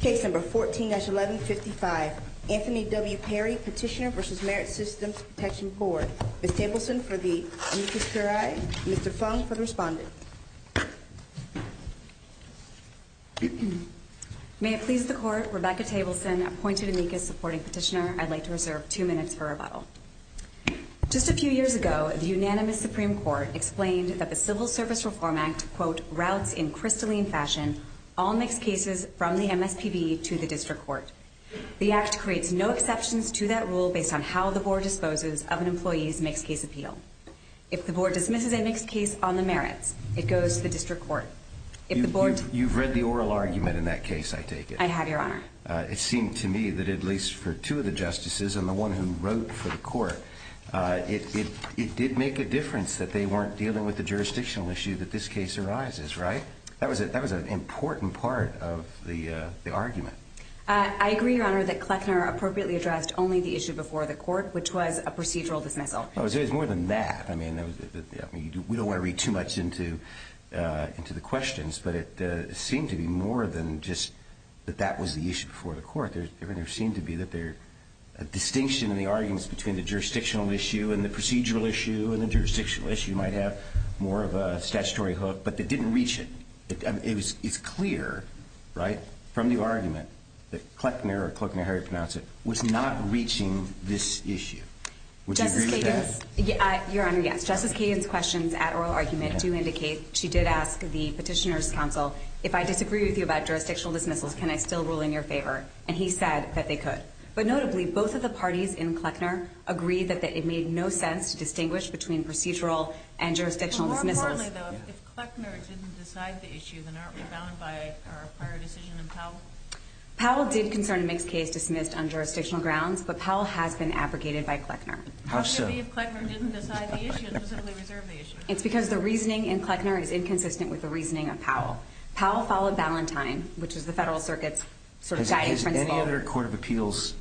Case number 14-1155, Anthony W. Perry, Petitioner v. Merit Systems Protection Board. Ms. Tableson for the amicus curiae, Mr. Fung for the respondent. May it please the Court, Rebecca Tableson, appointed amicus supporting petitioner. I'd like to reserve two minutes for rebuttal. Just a few years ago, the unanimous Supreme Court explained that the Civil Service Reform Act, quote, routes in crystalline fashion all mixed cases from the MSPB to the District Court. The Act creates no exceptions to that rule based on how the Board disposes of an employee's mixed case appeal. If the Board dismisses a mixed case on the merits, it goes to the District Court. You've read the oral argument in that case, I take it. I have, Your Honor. It seemed to me that at least for two of the Justices and the one who wrote for the Court, it did make a difference that they weren't dealing with the jurisdictional issue that this case arises, right? That was an important part of the argument. I agree, Your Honor, that Kleckner appropriately addressed only the issue before the Court, which was a procedural dismissal. Well, it was more than that. I mean, we don't want to read too much into the questions, but it seemed to be more than just that that was the issue before the Court. There seemed to be a distinction in the arguments between the jurisdictional issue and the procedural issue and the jurisdictional issue might have more of a statutory hook, but they didn't reach it. It's clear, right, from the argument that Kleckner or Kleckner, however you pronounce it, was not reaching this issue. Would you agree with that? Justice Kagan's questions at oral argument do indicate she did ask the Petitioner's counsel, if I disagree with you about jurisdictional dismissals, can I still rule in your favor? And he said that they could. But notably, both of the parties in Kleckner agreed that it made no sense to distinguish between procedural and jurisdictional dismissals. But more importantly, though, if Kleckner didn't decide the issue, then aren't we bound by our prior decision in Powell? Powell did concern a mixed case dismissed on jurisdictional grounds, but Powell has been abrogated by Kleckner. How so? If Kleckner didn't decide the issue, then doesn't he reserve the issue? It's because the reasoning in Kleckner is inconsistent with the reasoning of Powell. Powell followed Valentine, which is the Federal Circuit's guiding principle. Has any other court of appeals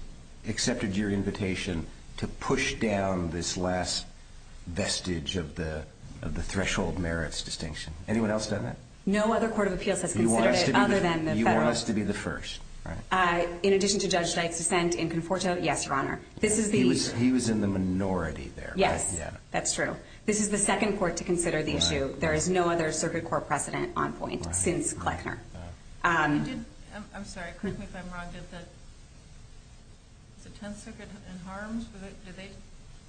accepted your invitation to push down this last vestige of the threshold merits distinction? Anyone else done that? No other court of appeals has considered it other than the Federal. You want us to be the first, right? In addition to Judge Dyke's dissent in Conforto, yes, Your Honor. He was in the minority there. Yes, that's true. This is the second court to consider the issue. There is no other circuit court precedent on point since Kleckner. I'm sorry. Correct me if I'm wrong. Did the Tenth Circuit in Harms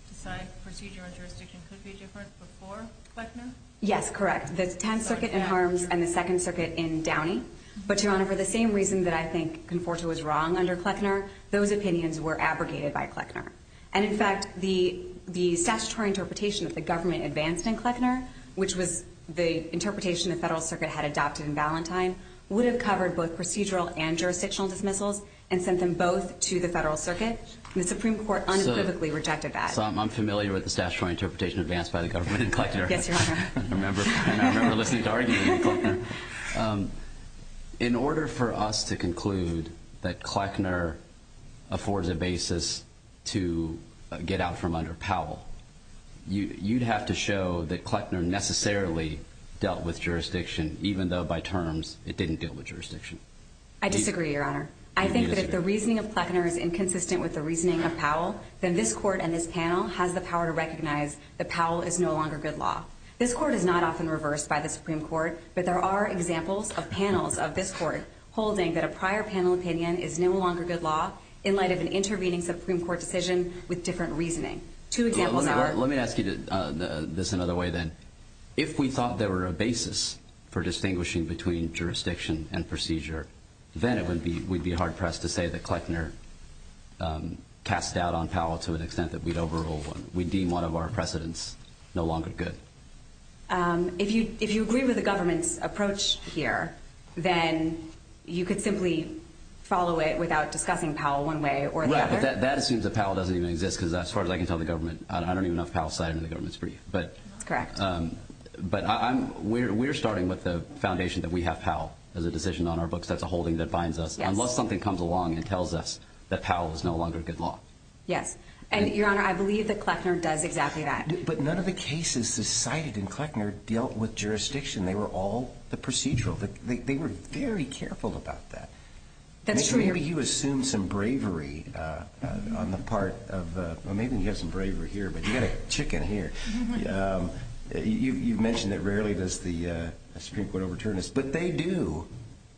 decide procedural and jurisdictional could be different before Kleckner? Yes, correct. The Tenth Circuit in Harms and the Second Circuit in Downey. But, Your Honor, for the same reason that I think Conforto was wrong under Kleckner, those opinions were abrogated by Kleckner. And, in fact, the statutory interpretation that the government advanced in Kleckner, which was the interpretation the Federal Circuit had adopted in Valentine, would have covered both procedural and jurisdictional dismissals and sent them both to the Federal Circuit. The Supreme Court unequivocally rejected that. So I'm familiar with the statutory interpretation advanced by the government in Kleckner. Yes, Your Honor. I remember listening to arguments in Kleckner. In order for us to conclude that Kleckner affords a basis to get out from under Powell, you'd have to show that Kleckner necessarily dealt with jurisdiction even though, by terms, it didn't deal with jurisdiction. I disagree, Your Honor. I think that if the reasoning of Kleckner is inconsistent with the reasoning of Powell, then this court and this panel has the power to recognize that Powell is no longer good law. This court is not often reversed by the Supreme Court, but there are examples of panels of this court holding that a prior panel opinion is no longer good law in light of an intervening Supreme Court decision with different reasoning. Two examples are… Let me ask you this another way, then. If we thought there were a basis for distinguishing between jurisdiction and procedure, then we'd be hard-pressed to say that Kleckner cast doubt on Powell to an extent that we'd deem one of our precedents no longer good. If you agree with the government's approach here, then you could simply follow it without discussing Powell one way or the other. Right, but that assumes that Powell doesn't even exist because, as far as I can tell, the government… I don't even know if Powell's cited in the government's brief. That's correct. But we're starting with the foundation that we have Powell as a decision on our books. That's a holding that binds us. Yes. Unless something comes along and tells us that Powell is no longer good law. Yes. And, Your Honor, I believe that Kleckner does exactly that. But none of the cases cited in Kleckner dealt with jurisdiction. They were all the procedural. They were very careful about that. That's true. Maybe he assumed some bravery on the part of… Well, maybe he has some bravery here, but you've got a chicken here. You've mentioned that rarely does the Supreme Court overturn this, but they do,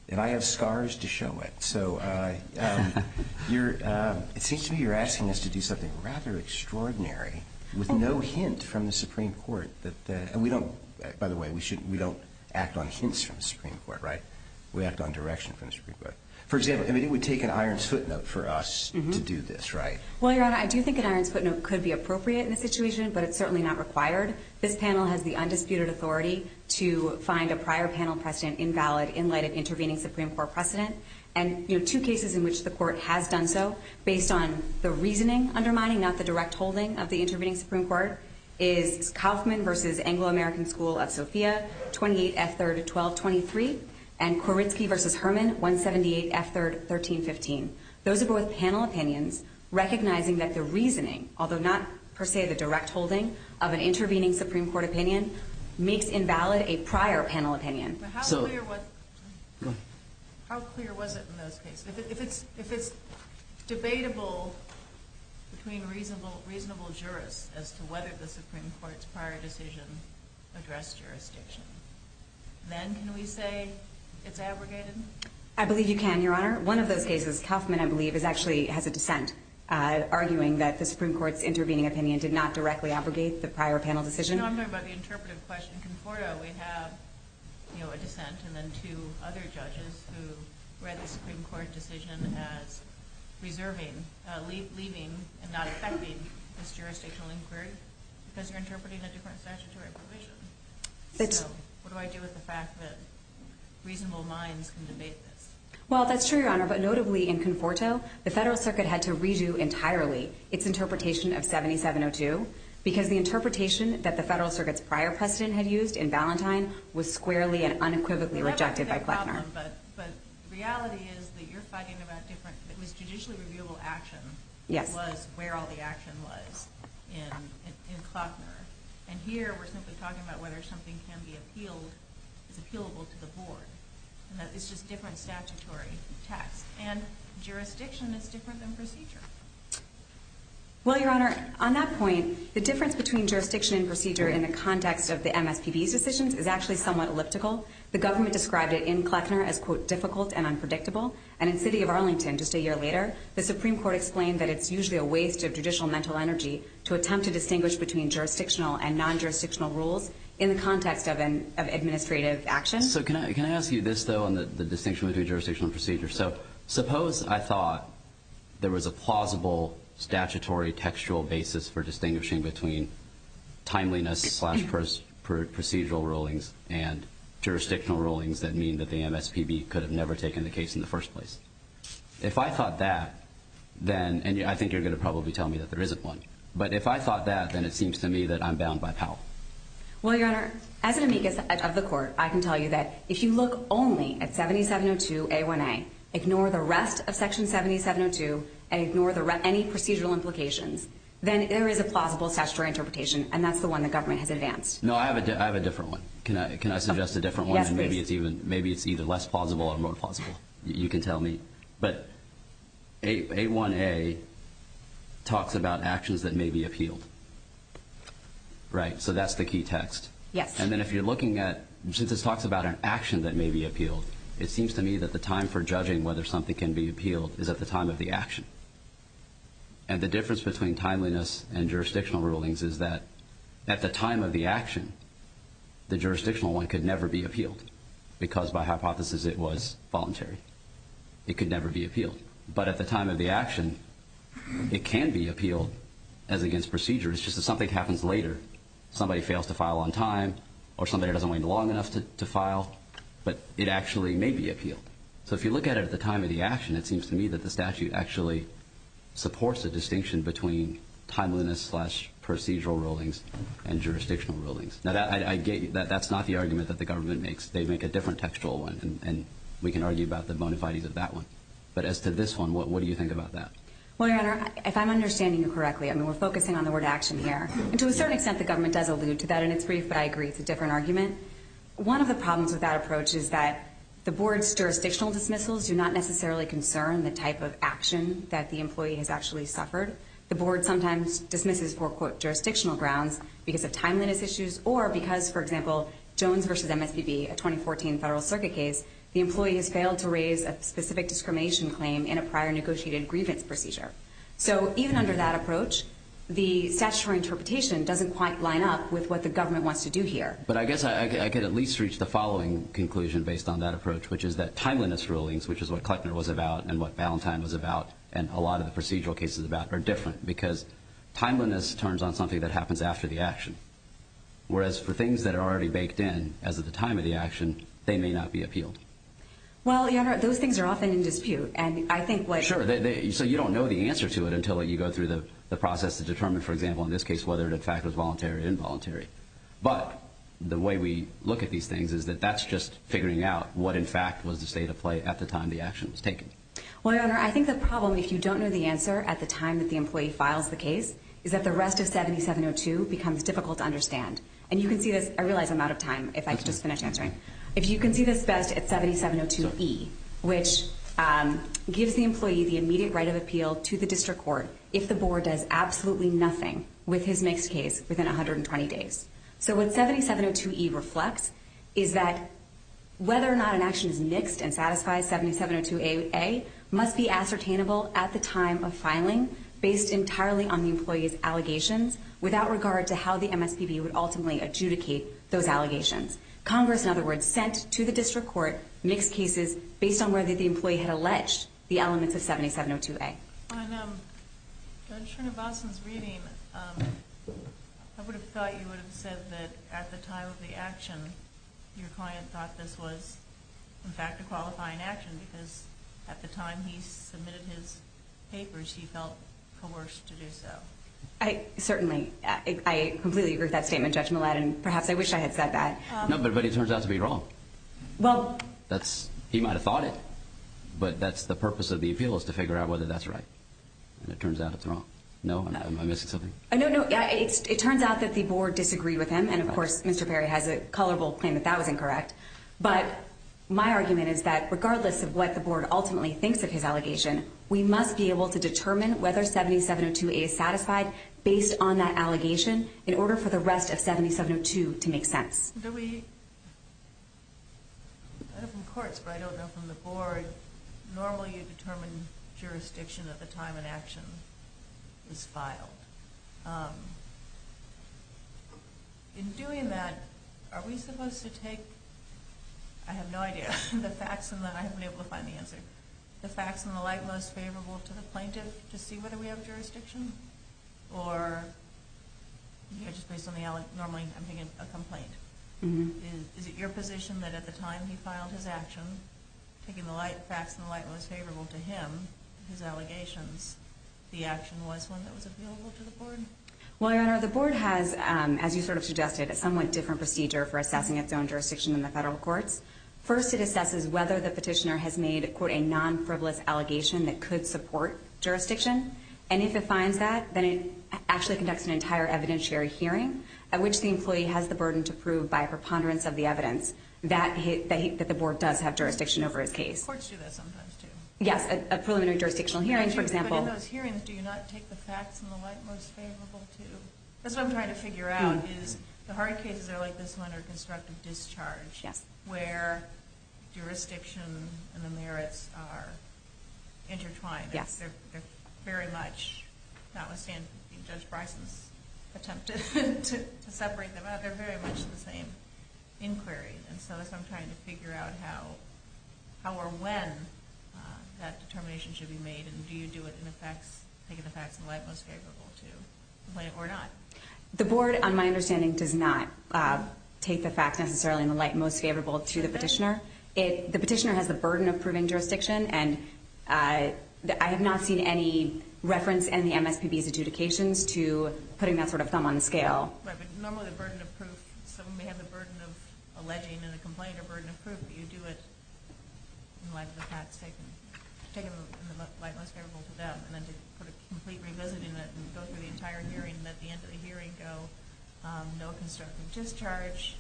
and I have scars to show it. It seems to me you're asking us to do something rather extraordinary with no hint from the Supreme Court. By the way, we don't act on hints from the Supreme Court, right? We act on direction from the Supreme Court. For example, it would take an iron's footnote for us to do this, right? Well, Your Honor, I do think an iron's footnote could be appropriate in this situation, but it's certainly not required. This panel has the undisputed authority to find a prior panel precedent invalid in light of intervening Supreme Court precedent. And, you know, two cases in which the Court has done so, based on the reasoning undermining, not the direct holding of the intervening Supreme Court, is Kauffman v. Anglo-American School of Sofia, 28 F. 3rd, 1223, and Koritzky v. Herman, 178 F. 3rd, 1315. Those are both panel opinions recognizing that the reasoning, although not per se the direct holding of an intervening Supreme Court opinion, makes invalid a prior panel opinion. How clear was it in those cases? If it's debatable between reasonable jurists as to whether the Supreme Court's prior decision addressed jurisdiction, then can we say it's abrogated? I believe you can, Your Honor. One of those cases, Kauffman, I believe, actually has a dissent, arguing that the Supreme Court's intervening opinion did not directly abrogate the prior panel decision. You know, I'm talking about the interpretive question. In Conforto, we have a dissent and then two other judges who read the Supreme Court decision as reserving, leaving, and not affecting this jurisdictional inquiry because you're interpreting a different statutory provision. So what do I do with the fact that reasonable minds can debate this? Well, that's true, Your Honor, but notably in Conforto, the Federal Circuit had to redo entirely its interpretation of 7702 because the interpretation that the Federal Circuit's prior precedent had used in Valentine was squarely and unequivocally rejected by Klockner. But the reality is that you're fighting about different, it was judicially reviewable action was where all the action was in Klockner. And here, we're simply talking about whether something can be appealed, is appealable to the board. It's just different statutory text. And jurisdiction is different than procedure. Well, Your Honor, on that point, the difference between jurisdiction and procedure in the context of the MSPB's decisions is actually somewhat elliptical. The government described it in Klockner as, quote, difficult and unpredictable. And in the city of Arlington just a year later, the Supreme Court explained that it's usually a waste of judicial mental energy to attempt to distinguish between jurisdictional and non-jurisdictional rules in the context of administrative action. So can I ask you this, though, on the distinction between jurisdiction and procedure? So suppose I thought there was a plausible statutory textual basis for distinguishing between timeliness slash procedural rulings and jurisdictional rulings that mean that the MSPB could have never taken the case in the first place. If I thought that, then, and I think you're going to probably tell me that there isn't one. But if I thought that, then it seems to me that I'm bound by power. Well, Your Honor, as an amicus of the court, I can tell you that if you look only at 7702A1A, ignore the rest of Section 7702, and ignore any procedural implications, then there is a plausible statutory interpretation, and that's the one the government has advanced. No, I have a different one. Can I suggest a different one? Yes, please. Maybe it's either less plausible or more plausible. You can tell me. But A1A talks about actions that may be appealed. Right, so that's the key text. Yes. And then if you're looking at, since this talks about an action that may be appealed, it seems to me that the time for judging whether something can be appealed is at the time of the action. And the difference between timeliness and jurisdictional rulings is that at the time of the action, the jurisdictional one could never be appealed because, by hypothesis, it was voluntary. It could never be appealed. But at the time of the action, it can be appealed as against procedure. It's just that something happens later. Somebody fails to file on time or somebody doesn't wait long enough to file, but it actually may be appealed. So if you look at it at the time of the action, it seems to me that the statute actually supports a distinction between timeliness slash procedural rulings and jurisdictional rulings. Now, that's not the argument that the government makes. They make a different textual one, and we can argue about the bona fides of that one. But as to this one, what do you think about that? Well, Your Honor, if I'm understanding you correctly, I mean, we're focusing on the word action here. And to a certain extent, the government does allude to that in its brief, but I agree it's a different argument. One of the problems with that approach is that the board's jurisdictional dismissals do not necessarily concern the type of action that the employee has actually suffered. The board sometimes dismisses for, quote, jurisdictional grounds because of timeliness issues or because, for example, Jones v. MSPB, a 2014 federal circuit case, the employee has failed to raise a specific discrimination claim in a prior negotiated grievance procedure. So even under that approach, the statutory interpretation doesn't quite line up with what the government wants to do here. But I guess I could at least reach the following conclusion based on that approach, which is that timeliness rulings, which is what Kleckner was about and what Ballantyne was about and a lot of the procedural cases about are different because timeliness turns on something that happens after the action. Whereas for things that are already baked in as of the time of the action, they may not be appealed. Well, Your Honor, those things are often in dispute, and I think what... Sure. So you don't know the answer to it until you go through the process to determine, for example, in this case, whether it in fact was voluntary or involuntary. But the way we look at these things is that that's just figuring out what in fact was the state of play at the time the action was taken. Well, Your Honor, I think the problem, if you don't know the answer at the time that the employee files the case, is that the rest of 7702 becomes difficult to understand. And you can see this. I realize I'm out of time if I just finish answering. If you can see this best at 7702E, which gives the employee the immediate right of appeal to the district court if the board does absolutely nothing with his mixed case within 120 days. So what 7702E reflects is that whether or not an action is mixed and satisfies 7702A must be ascertainable at the time of filing based entirely on the employee's allegations without regard to how the MSPB would ultimately adjudicate those allegations. Congress, in other words, sent to the district court mixed cases based on whether the employee had alleged the elements of 7702A. On Judge Srinivasan's reading, I would have thought you would have said that at the time of the action, your client thought this was, in fact, a qualifying action because at the time he submitted his papers, he felt coerced to do so. Certainly. I completely agree with that statement, Judge Millett, and perhaps I wish I had said that. No, but it turns out to be wrong. He might have thought it, but that's the purpose of the appeal is to figure out whether that's right. And it turns out it's wrong. No? Am I missing something? No, it turns out that the board disagreed with him, and, of course, Mr. Perry has a colorful claim that that was incorrect. But my argument is that regardless of what the board ultimately thinks of his allegation, we must be able to determine whether 7702A is satisfied based on that allegation in order for the rest of 7702 to make sense. I don't know from the courts, but I don't know from the board, normally you determine jurisdiction at the time an action is filed. In doing that, are we supposed to take, I have no idea, the facts, and I haven't been able to find the answer, the facts in the light most favorable to the plaintiff to see whether we have jurisdiction? Is it your position that at the time he filed his action, taking the facts in the light most favorable to him, his allegations, the action was one that was available to the board? Well, Your Honor, the board has, as you sort of suggested, a somewhat different procedure for assessing its own jurisdiction than the federal courts. First, it assesses whether the petitioner has made, quote, a non-frivolous allegation that could support jurisdiction. And if it finds that, then it actually conducts an entire evidentiary hearing at which the employee has the burden to prove by a preponderance of the evidence that the board does have jurisdiction over his case. Courts do that sometimes, too. Yes, a preliminary jurisdictional hearing, for example. But in those hearings, do you not take the facts in the light most favorable to? That's what I'm trying to figure out, is the hard cases are like this one, or constructive discharge, where jurisdiction and the merits are intertwined. Yes. They're very much, notwithstanding Judge Bryson's attempt to separate them out, they're very much the same inquiry. And so that's what I'm trying to figure out, how or when that determination should be made, and do you do it taking the facts in the light most favorable to the plaintiff or not? The board, on my understanding, does not take the facts necessarily in the light most favorable to the petitioner. The petitioner has the burden of proving jurisdiction, and I have not seen any reference in the MSPB's adjudications to putting that sort of thumb on the scale. Right, but normally the burden of proof, someone may have the burden of alleging in a complaint or burden of proof, but you do it in light of the facts taken in the light most favorable to them, and then to complete revisiting it and go through the entire hearing and at the end of the hearing go, no constructive discharge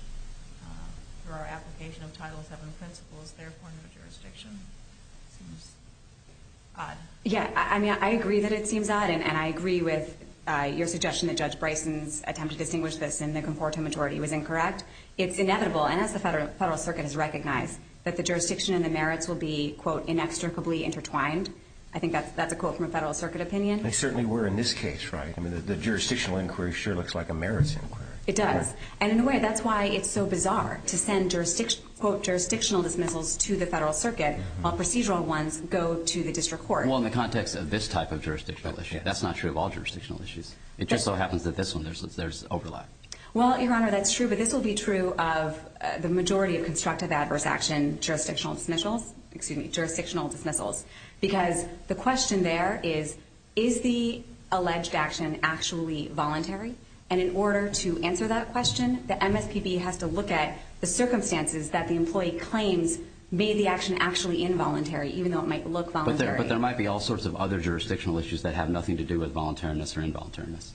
for our application of Title VII principles, therefore no jurisdiction. It seems odd. Yeah, I mean, I agree that it seems odd, and I agree with your suggestion that Judge Bryson's attempt to distinguish this in the conforto majority was incorrect. It's inevitable, and as the Federal Circuit has recognized, that the jurisdiction and the merits will be, quote, inextricably intertwined. I think that's a quote from a Federal Circuit opinion. They certainly were in this case, right? I mean, the jurisdictional inquiry sure looks like a merits inquiry. It does, and in a way that's why it's so bizarre to send, quote, jurisdictional dismissals to the Federal Circuit while procedural ones go to the District Court. Well, in the context of this type of jurisdictional issue, that's not true of all jurisdictional issues. It just so happens that this one, there's overlap. Well, Your Honor, that's true, but this will be true of the majority of constructive adverse action jurisdictional dismissals, because the question there is, is the alleged action actually voluntary? And in order to answer that question, the MSPB has to look at the circumstances that the employee claims made the action actually involuntary, even though it might look voluntary. But there might be all sorts of other jurisdictional issues that have nothing to do with voluntariness or involuntariness.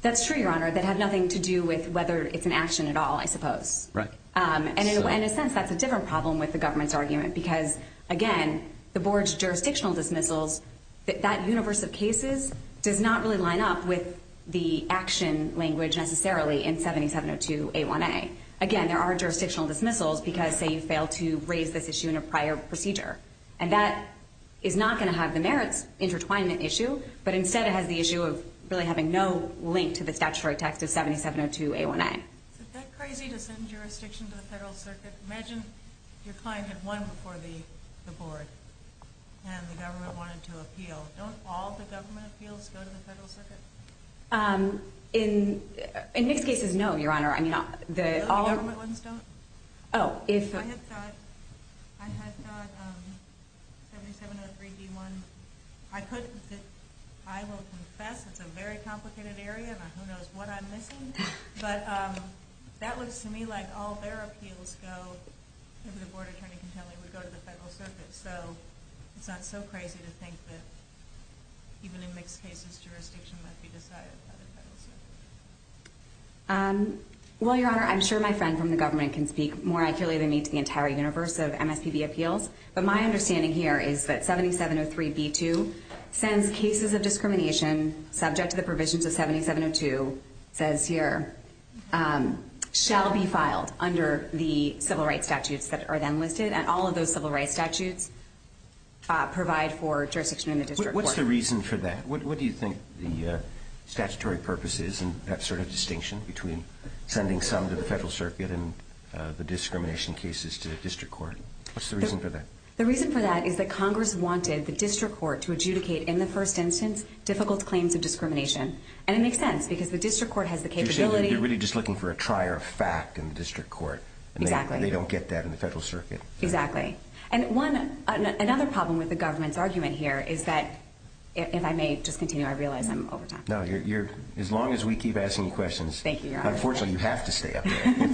That's true, Your Honor, that have nothing to do with whether it's an action at all, I suppose. Right. And in a sense, that's a different problem with the government's argument, because, again, the board's jurisdictional dismissals, that universe of cases, does not really line up with the action language necessarily in 7702A1A. Again, there are jurisdictional dismissals because, say, you failed to raise this issue in a prior procedure. And that is not going to have the merits intertwine the issue, but instead it has the issue of really having no link to the statutory text of 7702A1A. Is it that crazy to send jurisdiction to the Federal Circuit? Imagine your client had won before the board and the government wanted to appeal. Don't all the government appeals go to the Federal Circuit? In most cases, no, Your Honor. All the government ones don't? Oh. I have got 7703B1. I will confess it's a very complicated area, and who knows what I'm missing. But that looks to me like all their appeals go to the Federal Circuit. So it's not so crazy to think that even in mixed cases, jurisdiction might be decided by the Federal Circuit. Well, Your Honor, I'm sure my friend from the government can speak more accurately than me to the entire universe of MSPB appeals. But my understanding here is that 7703B2 sends cases of discrimination subject to the provisions of 7702, says here, shall be filed under the civil rights statutes that are then listed. And all of those civil rights statutes provide for jurisdiction in the district court. What's the reason for that? What do you think the statutory purpose is in that sort of distinction between sending some to the Federal Circuit and the discrimination cases to the district court? What's the reason for that? The reason for that is that Congress wanted the district court to adjudicate in the first instance difficult claims of discrimination. And it makes sense because the district court has the capability. So you're really just looking for a trier of fact in the district court. Exactly. And they don't get that in the Federal Circuit. Exactly. And another problem with the government's argument here is that, if I may just continue, I realize I'm over time. No, as long as we keep asking you questions. Thank you, Your Honor. Unfortunately, you have to stay up there.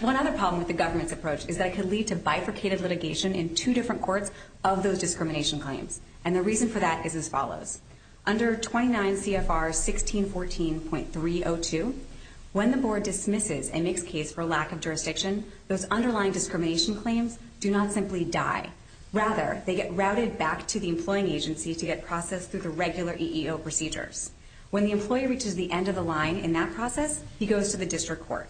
One other problem with the government's approach is that it can lead to bifurcated litigation in two different courts of those discrimination claims. And the reason for that is as follows. Under 29 CFR 1614.302, when the board dismisses a mixed case for lack of jurisdiction, those underlying discrimination claims do not simply die. Rather, they get routed back to the employing agency to get processed through the regular EEO procedures. When the employee reaches the end of the line in that process, he goes to the district court.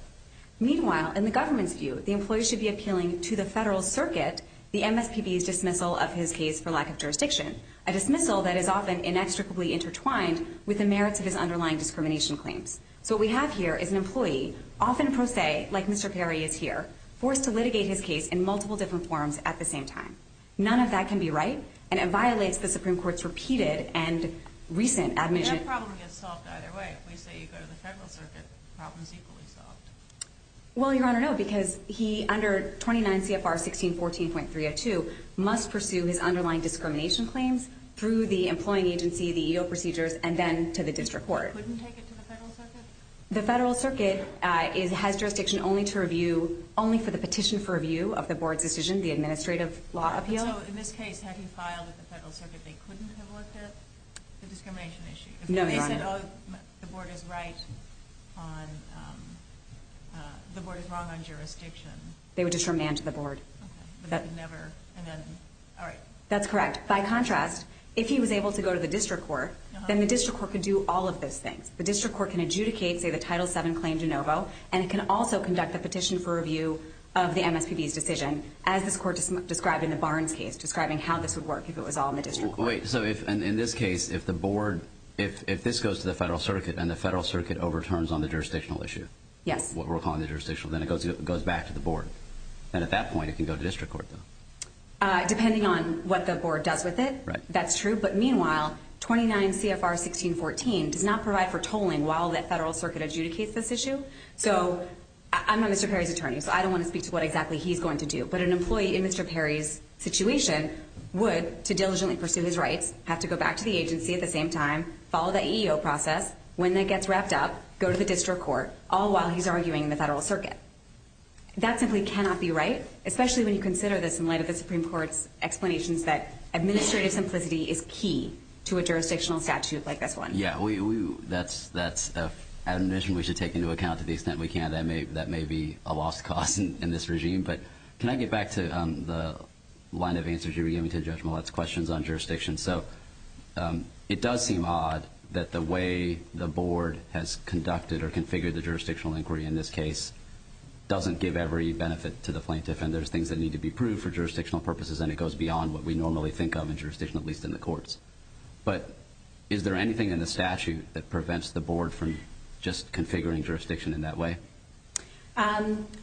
Meanwhile, in the government's view, the employee should be appealing to the Federal Circuit the MSPB's dismissal of his case for lack of jurisdiction, a dismissal that is often inextricably intertwined with the merits of his underlying discrimination claims. So what we have here is an employee, often pro se, like Mr. Perry is here, forced to litigate his case in multiple different forms at the same time. None of that can be right, and it violates the Supreme Court's repeated and recent admission. That problem gets solved either way. If we say you go to the Federal Circuit, the problem is equally solved. Well, Your Honor, no, because he, under 29 CFR 1614.302, must pursue his underlying discrimination claims through the employing agency, the EEO procedures, and then to the district court. Couldn't take it to the Federal Circuit? The Federal Circuit has jurisdiction only for the petition for review of the board's decision, the administrative law appeal. So in this case, had he filed with the Federal Circuit, they couldn't have looked at the discrimination issue? No, Your Honor. If he said, oh, the board is right on, the board is wrong on jurisdiction. They would just remand to the board. But they would never, and then, all right. That's correct. By contrast, if he was able to go to the district court, then the district court could do all of those things. The district court can adjudicate, say, the Title VII claim de novo, and it can also conduct the petition for review of the MSPB's decision, as this court described in the Barnes case, describing how this would work if it was all in the district court. Wait. So in this case, if the board, if this goes to the Federal Circuit and the Federal Circuit overturns on the jurisdictional issue? Yes. What we're calling the jurisdictional, then it goes back to the board. And at that point, it can go to district court, though. Depending on what the board does with it. Right. That's true. But meanwhile, 29 CFR 1614 does not provide for tolling while the Federal Circuit adjudicates this issue. So I'm not Mr. Perry's attorney, so I don't want to speak to what exactly he's going to do. But an employee in Mr. Perry's situation would, to diligently pursue his rights, have to go back to the agency at the same time, follow the EEO process. When that gets wrapped up, go to the district court, all while he's arguing in the Federal Circuit. That simply cannot be right, especially when you consider this in light of the Supreme Court's explanations that administrative simplicity is key to a jurisdictional statute like this one. Yeah, that's an admission we should take into account to the extent we can. That may be a lost cause in this regime. But can I get back to the line of answers you were giving to Judge Millett's questions on jurisdiction? So it does seem odd that the way the board has conducted or configured the jurisdictional inquiry in this case doesn't give every benefit to the plaintiff. And there's things that need to be proved for jurisdictional purposes, and it goes beyond what we normally think of in jurisdiction, at least in the courts. But is there anything in the statute that prevents the board from just configuring jurisdiction in that way?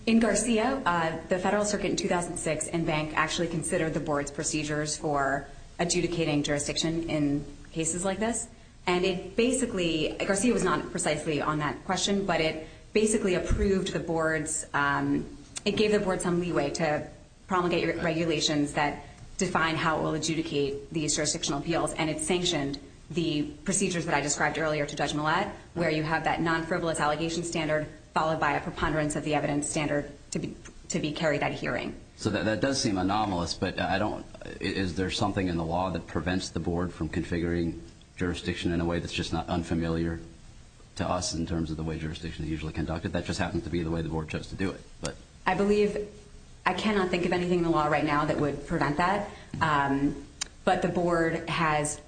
In Garcia, the Federal Circuit in 2006 and Bank actually considered the board's procedures for adjudicating jurisdiction in cases like this. And it basically – Garcia was not precisely on that question – but it basically approved the board's – it gave the board some leeway to promulgate regulations that define how it will adjudicate these jurisdictional appeals, and it sanctioned the procedures that I described earlier to Judge Millett, where you have that non-frivolous allegation standard followed by a preponderance of the evidence standard to carry that hearing. So that does seem anomalous, but I don't – is there something in the law that prevents the board from configuring jurisdiction in a way that's just not unfamiliar to us in terms of the way jurisdiction is usually conducted? That just happens to be the way the board chose to do it. I believe – I cannot think of anything in the law right now that would prevent that. But the board has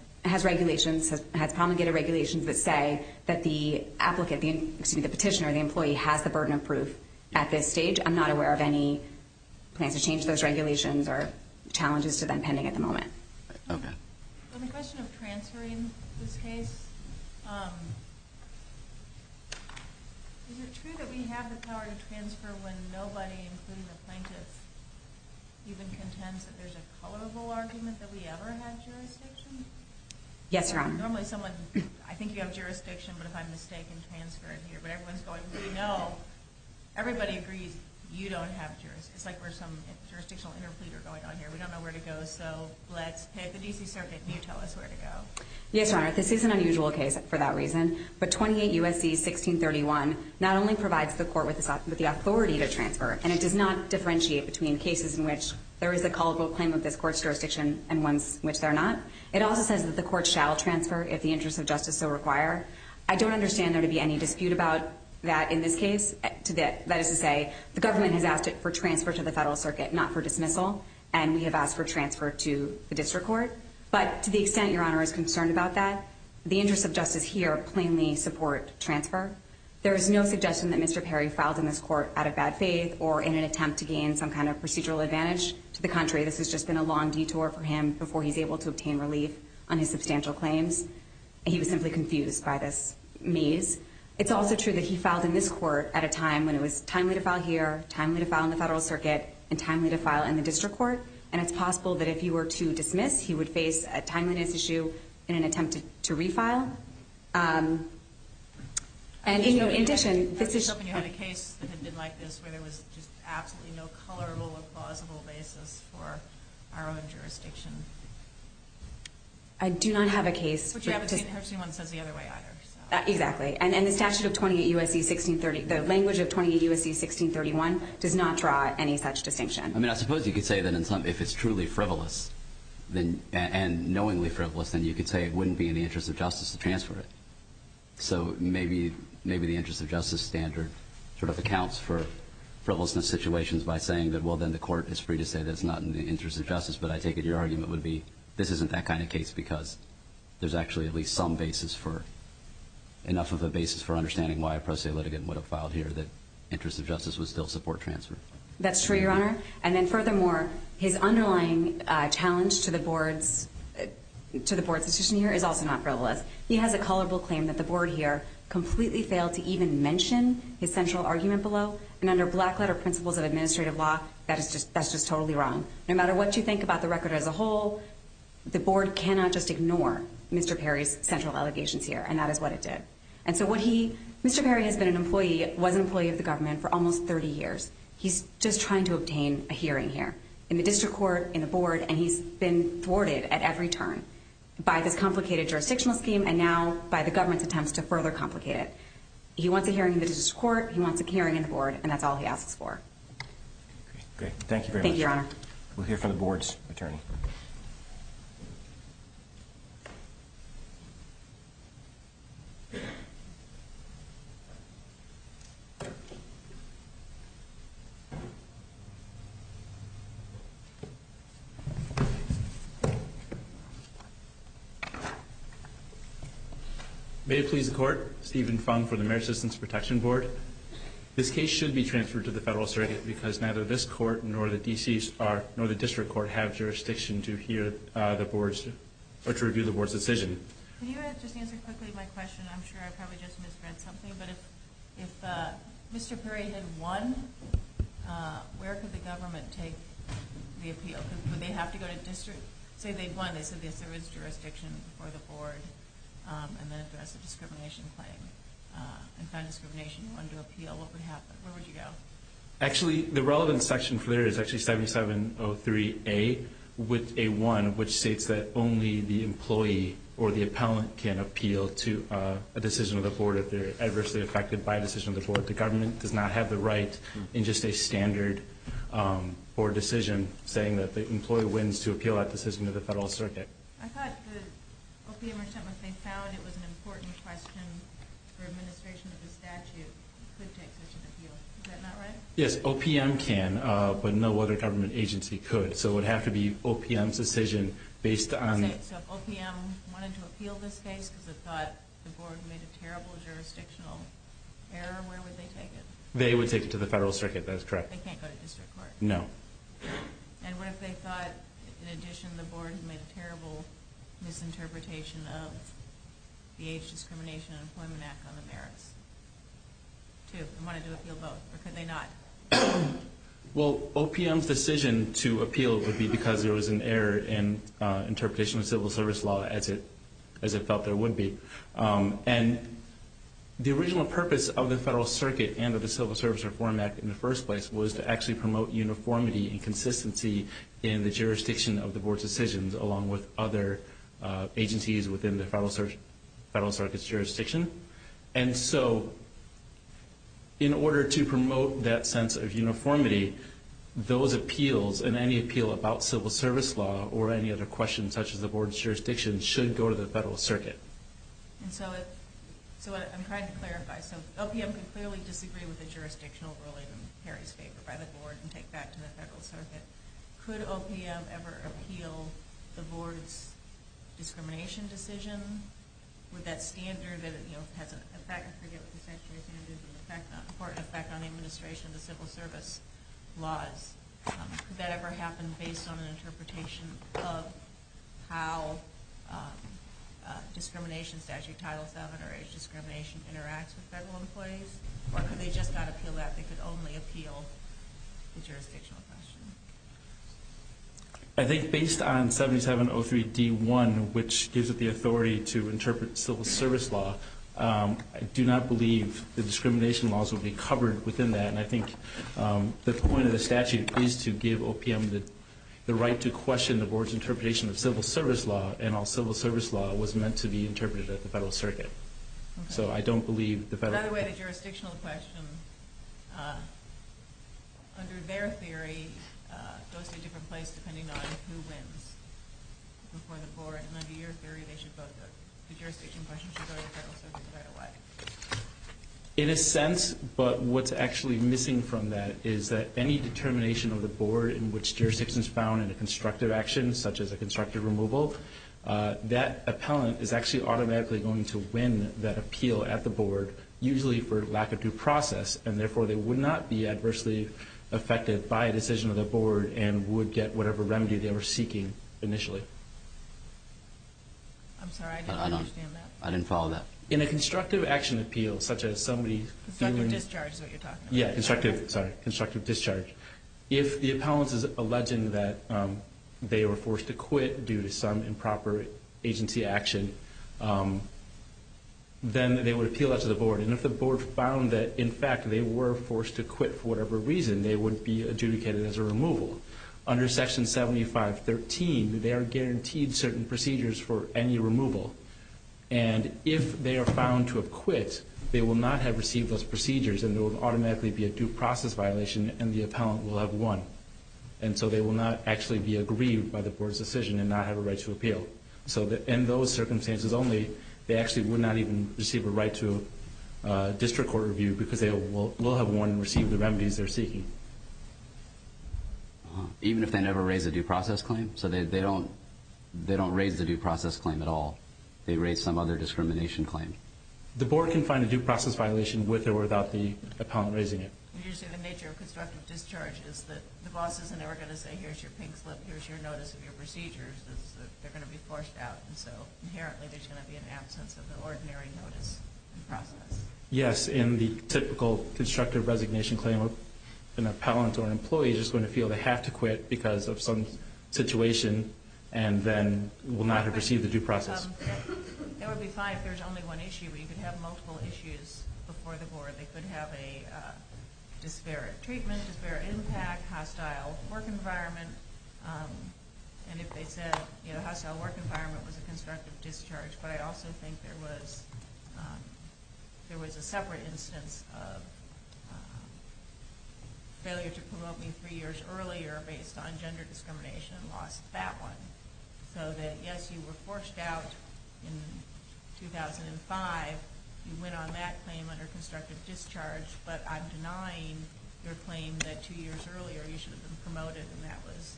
regulations, has promulgated regulations that say that the applicant – excuse me, the petitioner, the employee, has the burden of proof at this stage. I'm not aware of any plans to change those regulations or challenges to them pending at the moment. Okay. On the question of transferring this case, is it true that we have the power to transfer when nobody, including the plaintiffs, even contends that there's a colorable argument that we ever had jurisdiction? Yes, Your Honor. Normally someone – I think you have jurisdiction, but if I'm mistaken, transfer it here. But everyone's going, we know. Everybody agrees you don't have jurisdiction. It's like we're some jurisdictional interpleader going on here. We don't know where to go, so let's pick the D.C. Circuit and you tell us where to go. Yes, Your Honor. This is an unusual case for that reason. But 28 U.S.C. 1631 not only provides the court with the authority to transfer, and it does not differentiate between cases in which there is a colorable claim of this court's jurisdiction and ones in which there are not, it also says that the court shall transfer if the interests of justice so require. I don't understand there to be any dispute about that in this case. That is to say, the government has asked it for transfer to the federal circuit, not for dismissal, and we have asked for transfer to the district court. But to the extent Your Honor is concerned about that, the interests of justice here plainly support transfer. There is no suggestion that Mr. Perry filed in this court out of bad faith or in an attempt to gain some kind of procedural advantage. To the contrary, this has just been a long detour for him before he's able to obtain relief on his substantial claims. He was simply confused by this maze. It's also true that he filed in this court at a time when it was timely to file here, timely to file in the federal circuit, and timely to file in the district court. And it's possible that if he were to dismiss, he would face a timeliness issue in an attempt to refile. And, you know, in addition, this is... I was hoping you had a case that ended like this, where there was just absolutely no colorable or plausible basis for our own jurisdiction. I do not have a case... But you haven't seen it. Herbson 1 says the other way either. Exactly. And the statute of 28 U.S.C. 1630, the language of 28 U.S.C. 1631, does not draw any such distinction. I mean, I suppose you could say that if it's truly frivolous and knowingly frivolous, then you could say it wouldn't be in the interest of justice to transfer it. So maybe the interest of justice standard sort of accounts for frivolousness situations by saying that, well, then the court is free to say that it's not in the interest of justice. But I take it your argument would be this isn't that kind of case because there's actually at least some basis for... enough of a basis for understanding why a pro se litigant would have filed here that interest of justice would still support transfer. That's true, Your Honor. And then furthermore, his underlying challenge to the board's... to the board's decision here is also not frivolous. He has a culpable claim that the board here completely failed to even mention his central argument below. And under black letter principles of administrative law, that is just... that's just totally wrong. No matter what you think about the record as a whole, the board cannot just ignore Mr. Perry's central allegations here. And that is what it did. And so what he... Mr. Perry has been an employee... was an employee of the government for almost 30 years. He's just trying to obtain a hearing here in the district court, in the board, and he's been thwarted at every turn by this complicated jurisdictional scheme and now by the government's attempts to further complicate it. He wants a hearing in the district court, he wants a hearing in the board, and that's all he asks for. Okay. Thank you very much. Thank you, Your Honor. We'll hear from the board's attorney. May it please the court. Stephen Fung for the Marriage Assistance Protection Board. This case should be transferred to the federal association because neither this court nor the district court have jurisdiction to hear the board's... or to review the board's decision. Can you just answer quickly my question? I'm sure I probably just misread something, but if Mr. Perry had won, where could the government take the appeal? Would they have to go to district? Say they'd won. They said there was jurisdiction for the board and then address the discrimination claim and found discrimination and wanted to appeal. What would happen? Where would you go? Actually, the relevant section for there is actually 7703A with A1, which states that only the employee or the appellant can appeal to a decision of the board if they're adversely affected by a decision of the board. The government does not have the right in just a standard board decision saying that the employee wins to appeal that decision to the federal circuit. I thought the OPM or something, if they found it was an important question for administration of the statute, could take such an appeal. Is that not right? Yes, OPM can, but no other government agency could. So it would have to be OPM's decision based on... So if OPM wanted to appeal this case because it thought the board made a terrible jurisdictional error, where would they take it? They would take it to the federal circuit. That is correct. They can't go to district court? No. And what if they thought, in addition, the board made a terrible misinterpretation of the Age Discrimination and Employment Act on the merits? If they wanted to appeal both, or could they not? Well, OPM's decision to appeal would be because there was an error in interpretation of civil service law as it felt there would be. And the original purpose of the federal circuit and of the Civil Service Reform Act in the first place was to actually promote uniformity and consistency in the jurisdiction of the board's decisions, along with other agencies within the federal circuit's jurisdiction. And so in order to promote that sense of uniformity, those appeals and any appeal about civil service law or any other questions such as the board's jurisdiction should go to the federal circuit. And so I'm trying to clarify. So OPM can clearly disagree with the jurisdictional ruling in Harry's favor by the board and take that to the federal circuit. Could OPM ever appeal the board's discrimination decision with that standard that has an effect? I forget what the statutory standard is. It has an effect on the administration of the civil service laws. Could that ever happen based on an interpretation of how discrimination statute Title VII or age discrimination interacts with federal employees? Or could they just not appeal that? They could only appeal the jurisdictional question. I think based on 7703D1, which gives it the authority to interpret civil service law, I do not believe the discrimination laws would be covered within that. And I think the point of the statute is to give OPM the right to question the board's interpretation of civil service law and all civil service law was meant to be interpreted at the federal circuit. So I don't believe the federal... By the way, the jurisdictional question, under their theory, goes to a different place depending on who wins before the board. And under your theory, the jurisdiction question should go to the federal circuit right away. In a sense, but what's actually missing from that is that any determination of the board in which jurisdiction is found in a constructive action, such as a constructive removal, that appellant is actually automatically going to win that appeal at the board, usually for lack of due process, and therefore they would not be adversely affected by a decision of the board and would get whatever remedy they were seeking initially. I'm sorry, I didn't understand that. I didn't follow that. In a constructive action appeal, such as somebody... Constructive discharge is what you're talking about. Yeah, sorry, constructive discharge. If the appellant is alleging that they were forced to quit due to some improper agency action, then they would appeal that to the board. And if the board found that, in fact, they were forced to quit for whatever reason, they would be adjudicated as a removal. Under Section 7513, they are guaranteed certain procedures for any removal. And if they are found to have quit, they will not have received those procedures and there will automatically be a due process violation and the appellant will have won. And so they will not actually be aggrieved by the board's decision and not have a right to appeal. So in those circumstances only, they actually would not even receive a right to district court review because they will have won and received the remedies they're seeking. Even if they never raise a due process claim. So they don't raise the due process claim at all. They raise some other discrimination claim. The board can find a due process violation with or without the appellant raising it. Usually the nature of constructive discharge is that the boss is never going to say, here's your pink slip, here's your notice of your procedures. They're going to be forced out. And so inherently there's going to be an absence of the ordinary notice and process. Yes, in the typical constructive resignation claim, an appellant or an employee is going to feel they have to quit because of some situation and then will not have received the due process. It would be fine if there's only one issue, but you could have multiple issues before the board. They could have a disparate treatment, disparate impact, hostile work environment. And if they said, you know, hostile work environment was a constructive discharge. But I also think there was a separate instance of failure to promote me three years earlier based on gender discrimination and lost that one. So that, yes, you were forced out in 2005. You went on that claim under constructive discharge. But I'm denying your claim that two years earlier you should have been promoted and that was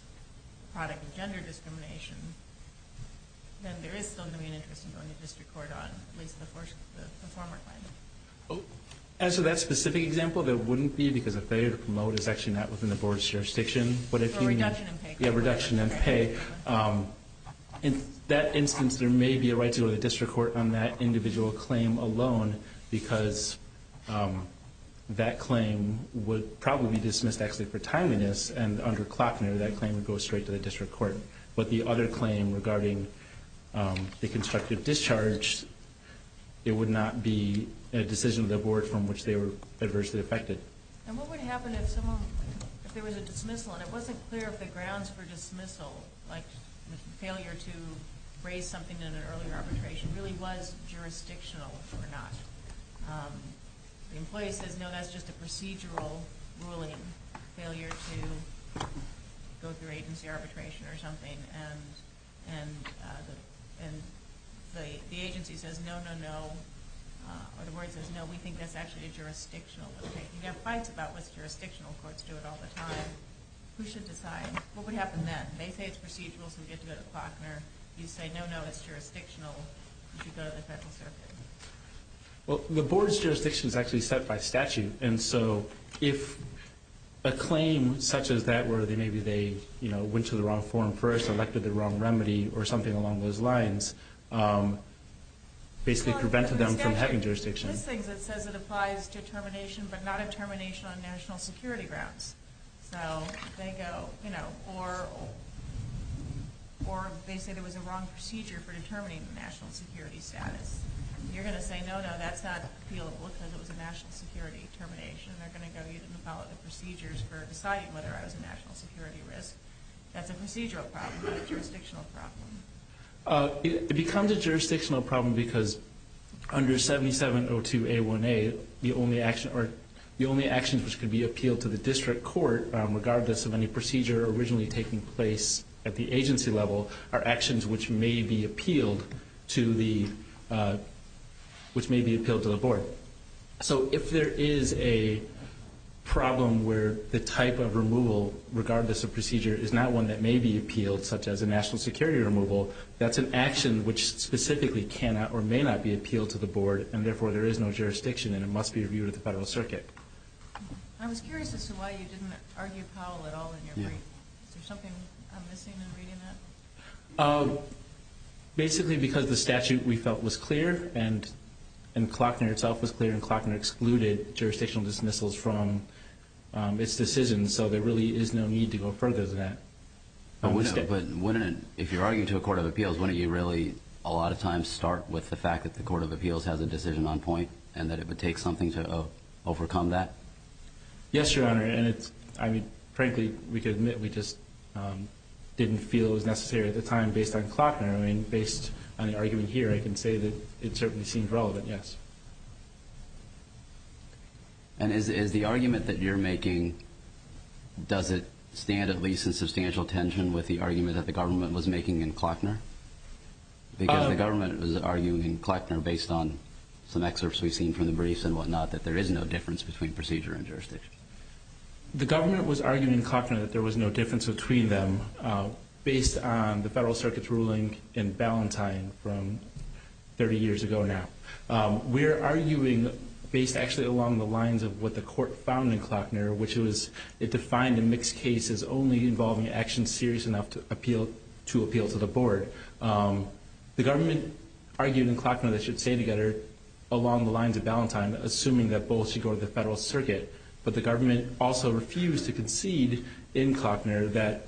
a product of gender discrimination. Then there is still going to be an interest in going to district court on at least the former claim. As for that specific example, that wouldn't be because a failure to promote is actually not within the board's jurisdiction. For reduction in pay. Yeah, reduction in pay. In that instance, there may be a right to go to the district court on that individual claim alone because that claim would probably be dismissed actually for timeliness and under Klockner that claim would go straight to the district court. But the other claim regarding the constructive discharge, it would not be a decision of the board from which they were adversely affected. And what would happen if there was a dismissal and it wasn't clear if the grounds for dismissal, like the failure to raise something in an earlier arbitration, really was jurisdictional or not? The employee says, no, that's just a procedural ruling. Failure to go through agency arbitration or something. And the agency says, no, no, no. Or the board says, no, we think that's actually jurisdictional. You have fights about what's jurisdictional. Courts do it all the time. Who should decide? What would happen then? They say it's procedural, so we get to go to Klockner. You say, no, no, it's jurisdictional. You should go to the federal circuit. Well, the board's jurisdiction is actually set by statute. And so if a claim such as that where maybe they went to the wrong forum first, elected the wrong remedy, or something along those lines, basically prevented them from having jurisdiction. This thing that says it applies to termination but not a termination on national security grounds. So they go, you know, or they say there was a wrong procedure for determining national security status. You're going to say, no, no, that's not appealable because it was a national security termination. They're going to go, you didn't follow the procedures for deciding whether I was a national security risk. That's a procedural problem, not a jurisdictional problem. It becomes a jurisdictional problem because under 7702A1A, the only actions which could be appealed to the district court, regardless of any procedure originally taking place at the agency level, are actions which may be appealed to the board. So if there is a problem where the type of removal, regardless of procedure, is not one that may be appealed, such as a national security removal, that's an action which specifically cannot or may not be appealed to the board, and therefore there is no jurisdiction and it must be reviewed at the federal circuit. I was curious as to why you didn't argue Powell at all in your brief. Is there something I'm missing in reading that? Basically because the statute, we felt, was clear and Klockner itself was clear, and Klockner excluded jurisdictional dismissals from its decision, so there really is no need to go further than that. But if you're arguing to a court of appeals, wouldn't you really a lot of times start with the fact that the court of appeals has a decision on point and that it would take something to overcome that? Yes, Your Honor, and frankly we could admit we just didn't feel it was necessary at the time based on Klockner. Based on the argument here, I can say that it certainly seems relevant, yes. And is the argument that you're making, does it stand at least in substantial tension with the argument that the government was making in Klockner? Because the government was arguing in Klockner based on some excerpts we've seen from the briefs and whatnot that there is no difference between procedure and jurisdiction. The government was arguing in Klockner that there was no difference between them based on the Federal Circuit's ruling in Ballantyne from 30 years ago now. We're arguing based actually along the lines of what the court found in Klockner, which was it defined a mixed case as only involving actions serious enough to appeal to the board. The government argued in Klockner that it should stay together along the lines of Ballantyne, assuming that both should go to the Federal Circuit. But the government also refused to concede in Klockner that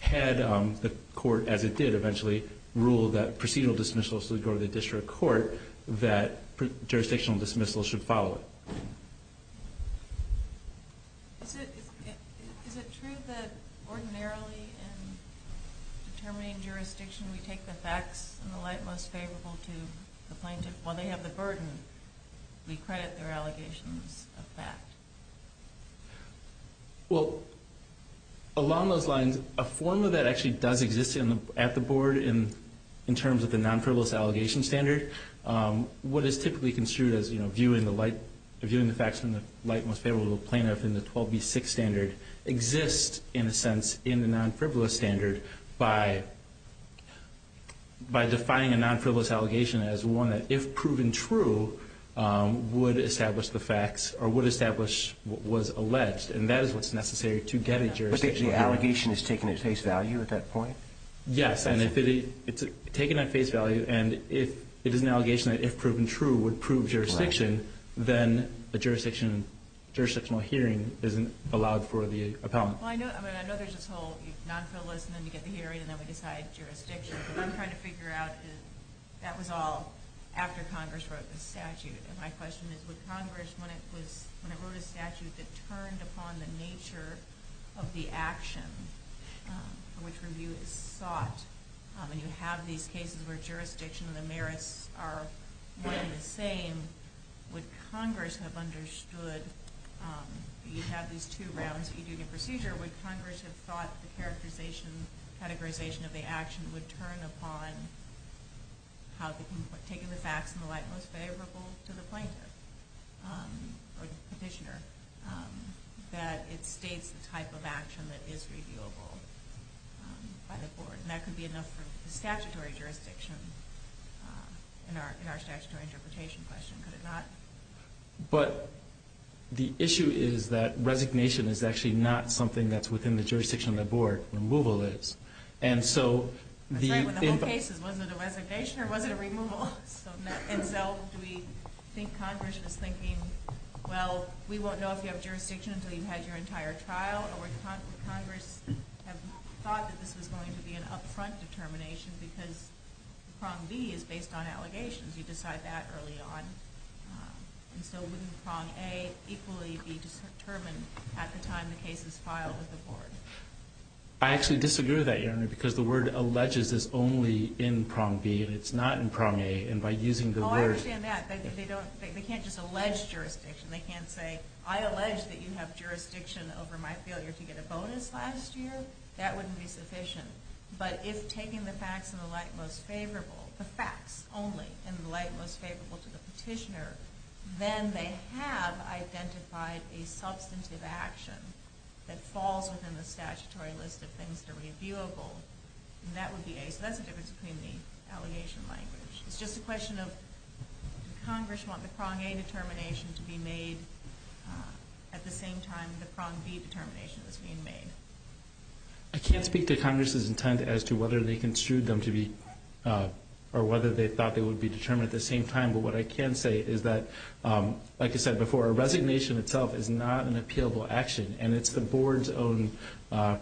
had the court, as it did eventually, rule that procedural dismissals should go to the district court, that jurisdictional dismissals should follow it. Is it true that ordinarily in determining jurisdiction we take the facts in the light most favorable to the plaintiff while they have the burden? We credit their allegations of fact. Well, along those lines, a formula that actually does exist at the board in terms of the non-frivolous allegation standard, what is typically construed as viewing the facts in the light most favorable to the plaintiff in the 12B6 standard exists in a sense in the non-frivolous standard by defining a non-frivolous allegation as one that, if proven true, would establish the facts or would establish what was alleged. And that is what's necessary to get a jurisdictional hearing. But the allegation is taken at face value at that point? Yes. And if it's taken at face value and if it is an allegation that, if proven true, would prove jurisdiction, then a jurisdictional hearing isn't allowed for the appellant. Well, I know there's this whole non-frivolous and then you get the hearing and then we decide jurisdiction. What I'm trying to figure out is that was all after Congress wrote the statute. And my question is, would Congress, when it wrote a statute that turned upon the nature of the action for which review is sought, and you have these cases where jurisdiction and the merits are one and the same, would Congress have understood, you have these two rounds that you do in your procedure, would Congress have thought the characterization of the action would turn upon taking the facts in the light most favorable to the plaintiff or petitioner, that it states the type of action that is reviewable by the board? And that could be enough for the statutory jurisdiction in our statutory interpretation question, could it not? But the issue is that resignation is actually not something that's within the jurisdiction of the board. Removal is. I'm sorry, but the whole case, was it a resignation or was it a removal? And so do we think Congress is thinking, well, we won't know if you have jurisdiction until you've had your entire trial, or would Congress have thought that this was going to be an up-front determination because prong B is based on allegations, you decide that early on. And so wouldn't prong A equally be determined at the time the case is filed with the board? I actually disagree with that, Your Honor, because the word alleges is only in prong B, and it's not in prong A, and by using the word... Oh, I understand that. They can't just allege jurisdiction. They can't say, I allege that you have jurisdiction over my failure to get a bonus last year. That wouldn't be sufficient. But if taking the facts in the light most favorable, the facts only in the light most favorable to the petitioner, then they have identified a substantive action that falls within the statutory list of things that are reviewable, and that would be A. So that's the difference between the allegation language. It's just a question of, does Congress want the prong A determination to be made at the same time the prong B determination is being made? I can't speak to Congress's intent as to whether they construed them to be, or whether they thought they would be determined at the same time, but what I can say is that, like I said before, a resignation itself is not an appealable action, and it's the Board's own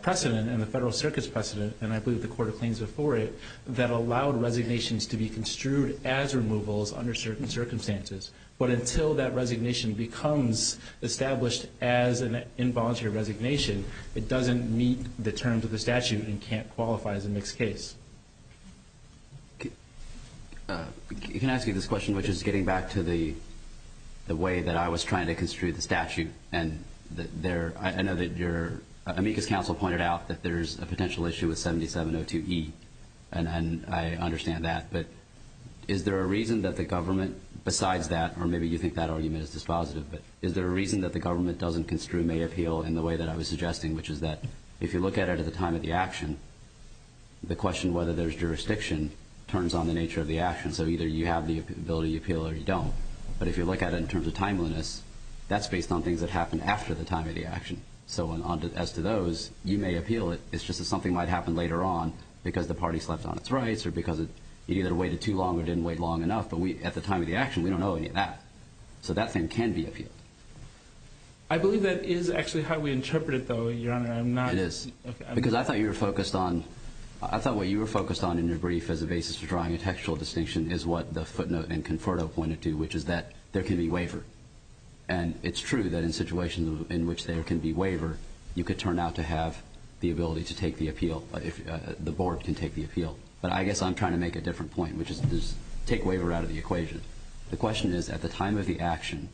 precedent and the Federal Circuit's precedent, and I believe the Court of Claims before it, that allowed resignations to be construed as removals under certain circumstances. But until that resignation becomes established as an involuntary resignation, it doesn't meet the terms of the statute and can't qualify as a mixed case. Can I ask you this question, which is getting back to the way that I was trying to construe the statute, and I know that your amicus counsel pointed out that there's a potential issue with 7702E, and I understand that, but is there a reason that the government, besides that, or maybe you think that argument is dispositive, but is there a reason that the government doesn't construe May appeal in the way that I was suggesting, which is that if you look at it at the time of the action, the question whether there's jurisdiction turns on the nature of the action, so either you have the ability to appeal or you don't. But if you look at it in terms of timeliness, that's based on things that happen after the time of the action. So as to those, you may appeal it, it's just that something might happen later on because the party slept on its rights or because it either waited too long or didn't wait long enough, but at the time of the action, we don't know any of that. So that thing can be appealed. I believe that is actually how we interpret it, though, Your Honor. It is. Because I thought what you were focused on in your brief as a basis for drawing a textual distinction is what the footnote in Conferto pointed to, which is that there can be waiver. And it's true that in situations in which there can be waiver, you could turn out to have the ability to take the appeal, the board can take the appeal. But I guess I'm trying to make a different point, which is take waiver out of the equation. The question is, at the time of the action,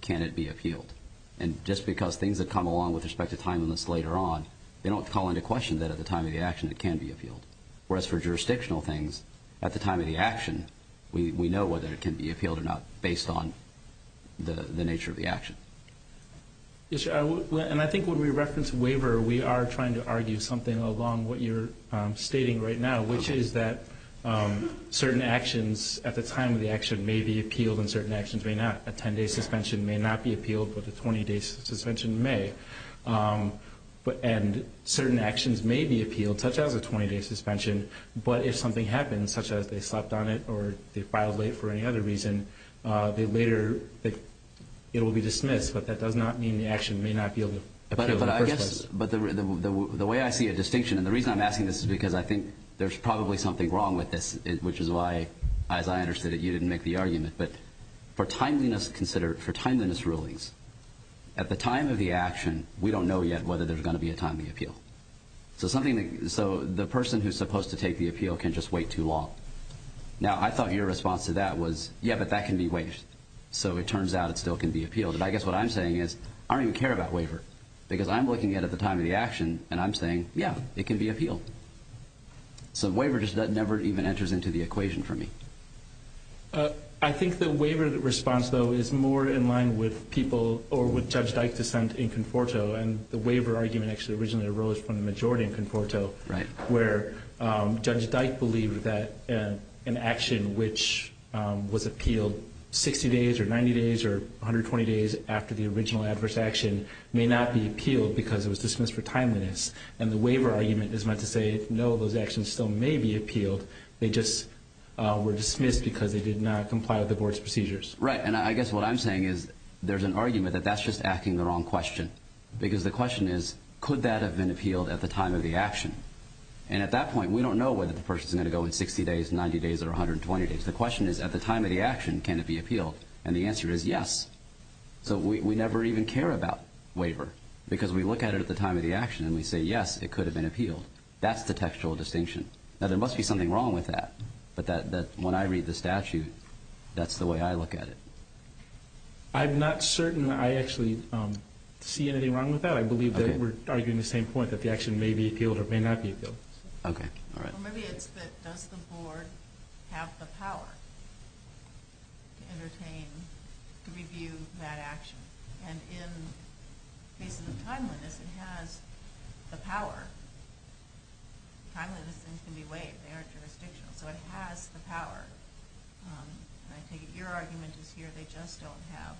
can it be appealed? And just because things that come along with respect to timeliness later on, they don't call into question that at the time of the action it can be appealed. Whereas for jurisdictional things, at the time of the action, we know whether it can be appealed or not based on the nature of the action. And I think when we reference waiver, we are trying to argue something along what you're stating right now, which is that certain actions at the time of the action may be appealed and certain actions may not. A 10-day suspension may not be appealed, but a 20-day suspension may. And certain actions may be appealed, such as a 20-day suspension, but if something happens, such as they slept on it or they filed late for any other reason, it will be dismissed, but that does not mean the action may not be appealed in the first place. The way I see a distinction, and the reason I'm asking this is because I think there's probably something wrong with this, which is why, as I understood it, you didn't make the argument, but for timeliness rulings, at the time of the action, we don't know yet whether there's going to be a timely appeal. So the person who's supposed to take the appeal can just wait too long. Now, I thought your response to that was, yeah, but that can be waived. So it turns out it still can be appealed. And I guess what I'm saying is I don't even care about waiver, because I'm looking at it at the time of the action, and I'm saying, yeah, it can be appealed. So waiver just never even enters into the equation for me. I think the waiver response, though, is more in line with people or with Judge Dyke's dissent in Conforto, and the waiver argument actually originally arose from the majority in Conforto, where Judge Dyke believed that an action which was appealed 60 days or 90 days or 120 days after the original adverse action may not be appealed because it was dismissed for timeliness. And the waiver argument is meant to say, no, those actions still may be appealed. They just were dismissed because they did not comply with the Board's procedures. Right, and I guess what I'm saying is there's an argument that that's just asking the wrong question, because the question is, could that have been appealed at the time of the action? And at that point, we don't know whether the person's going to go in 60 days, 90 days, or 120 days. The question is, at the time of the action, can it be appealed? And the answer is yes. So we never even care about waiver because we look at it at the time of the action and we say, yes, it could have been appealed. That's the textual distinction. Now, there must be something wrong with that, but when I read the statute, that's the way I look at it. I'm not certain I actually see anything wrong with that. I believe that we're arguing the same point, that the action may be appealed or may not be appealed. Okay, all right. Well, maybe it's that does the Board have the power to entertain, to review that action? And in cases of timeliness, it has the power. Timeliness things can be waived. They aren't jurisdictional. So it has the power. And I take it your argument is here they just don't have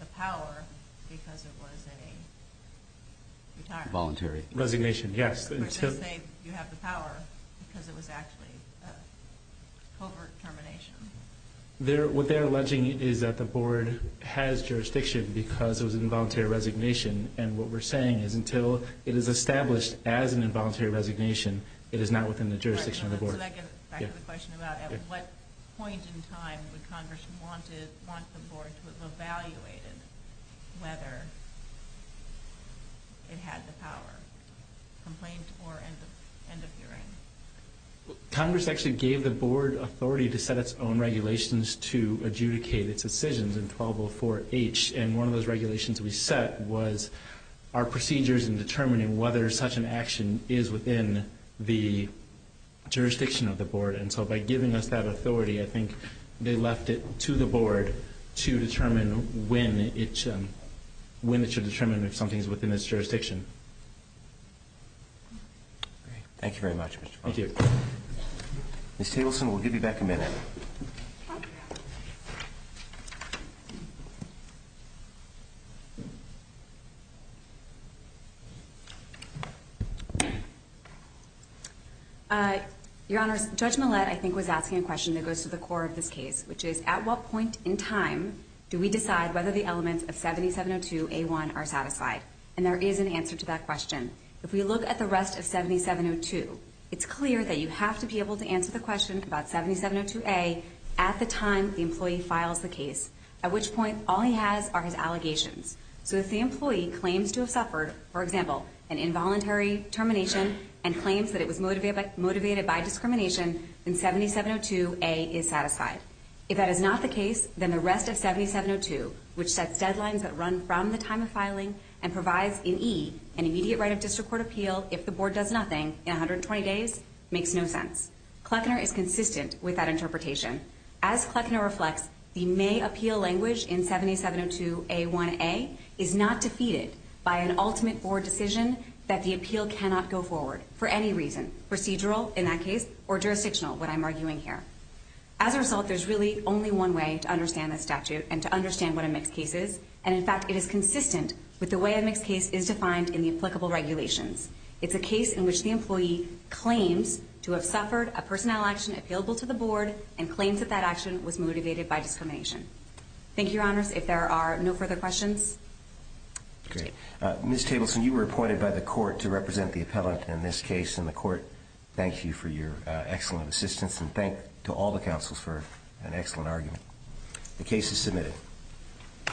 the power because it was a retirement. Voluntary resignation, yes. Or they say you have the power because it was actually a covert termination. What they're alleging is that the Board has jurisdiction because it was an involuntary resignation. And what we're saying is until it is established as an involuntary resignation, it is not within the jurisdiction of the Board. So that gets back to the question about at what point in time would Congress want the Board to have evaluated whether it had the power, complaint or end of hearing? Congress actually gave the Board authority to set its own regulations to adjudicate its decisions in 1204H. And one of those regulations we set was our procedures in determining whether such an action is within the jurisdiction of the Board. And so by giving us that authority, I think they left it to the Board to determine when it should determine if something is within its jurisdiction. Thank you very much, Mr. Foster. Thank you. Ms. Tableson, we'll give you back a minute. Your Honors, Judge Millett, I think, was asking a question that goes to the core of this case, which is at what point in time do we decide whether the elements of 7702A1 are satisfied? And there is an answer to that question. If we look at the rest of 7702, it's clear that you have to be able to answer the question about 7702A at the time the employee files the case, at which point all he has are his allegations. So if the employee claims to have suffered, for example, an involuntary termination and claims that it was motivated by discrimination, then 7702A is satisfied. If that is not the case, then the rest of 7702, which sets deadlines that run from the time of filing and provides, in E, an immediate right of district court appeal if the Board does nothing in 120 days, makes no sense. Kleckner is consistent with that interpretation. As Kleckner reflects, the May appeal language in 7702A1A is not defeated by an ultimate Board decision that the appeal cannot go forward for any reason, procedural in that case or jurisdictional, what I'm arguing here. As a result, there's really only one way to understand this statute and to understand what a mixed case is. And, in fact, it is consistent with the way a mixed case is defined in the applicable regulations. It's a case in which the employee claims to have suffered a personnel action appealable to the Board and claims that that action was motivated by discrimination. Thank you, Your Honors. If there are no further questions. Great. Ms. Tableson, you were appointed by the court to represent the appellate in this case. And the court thanks you for your excellent assistance and thanks to all the counsels for an excellent argument. The case is submitted.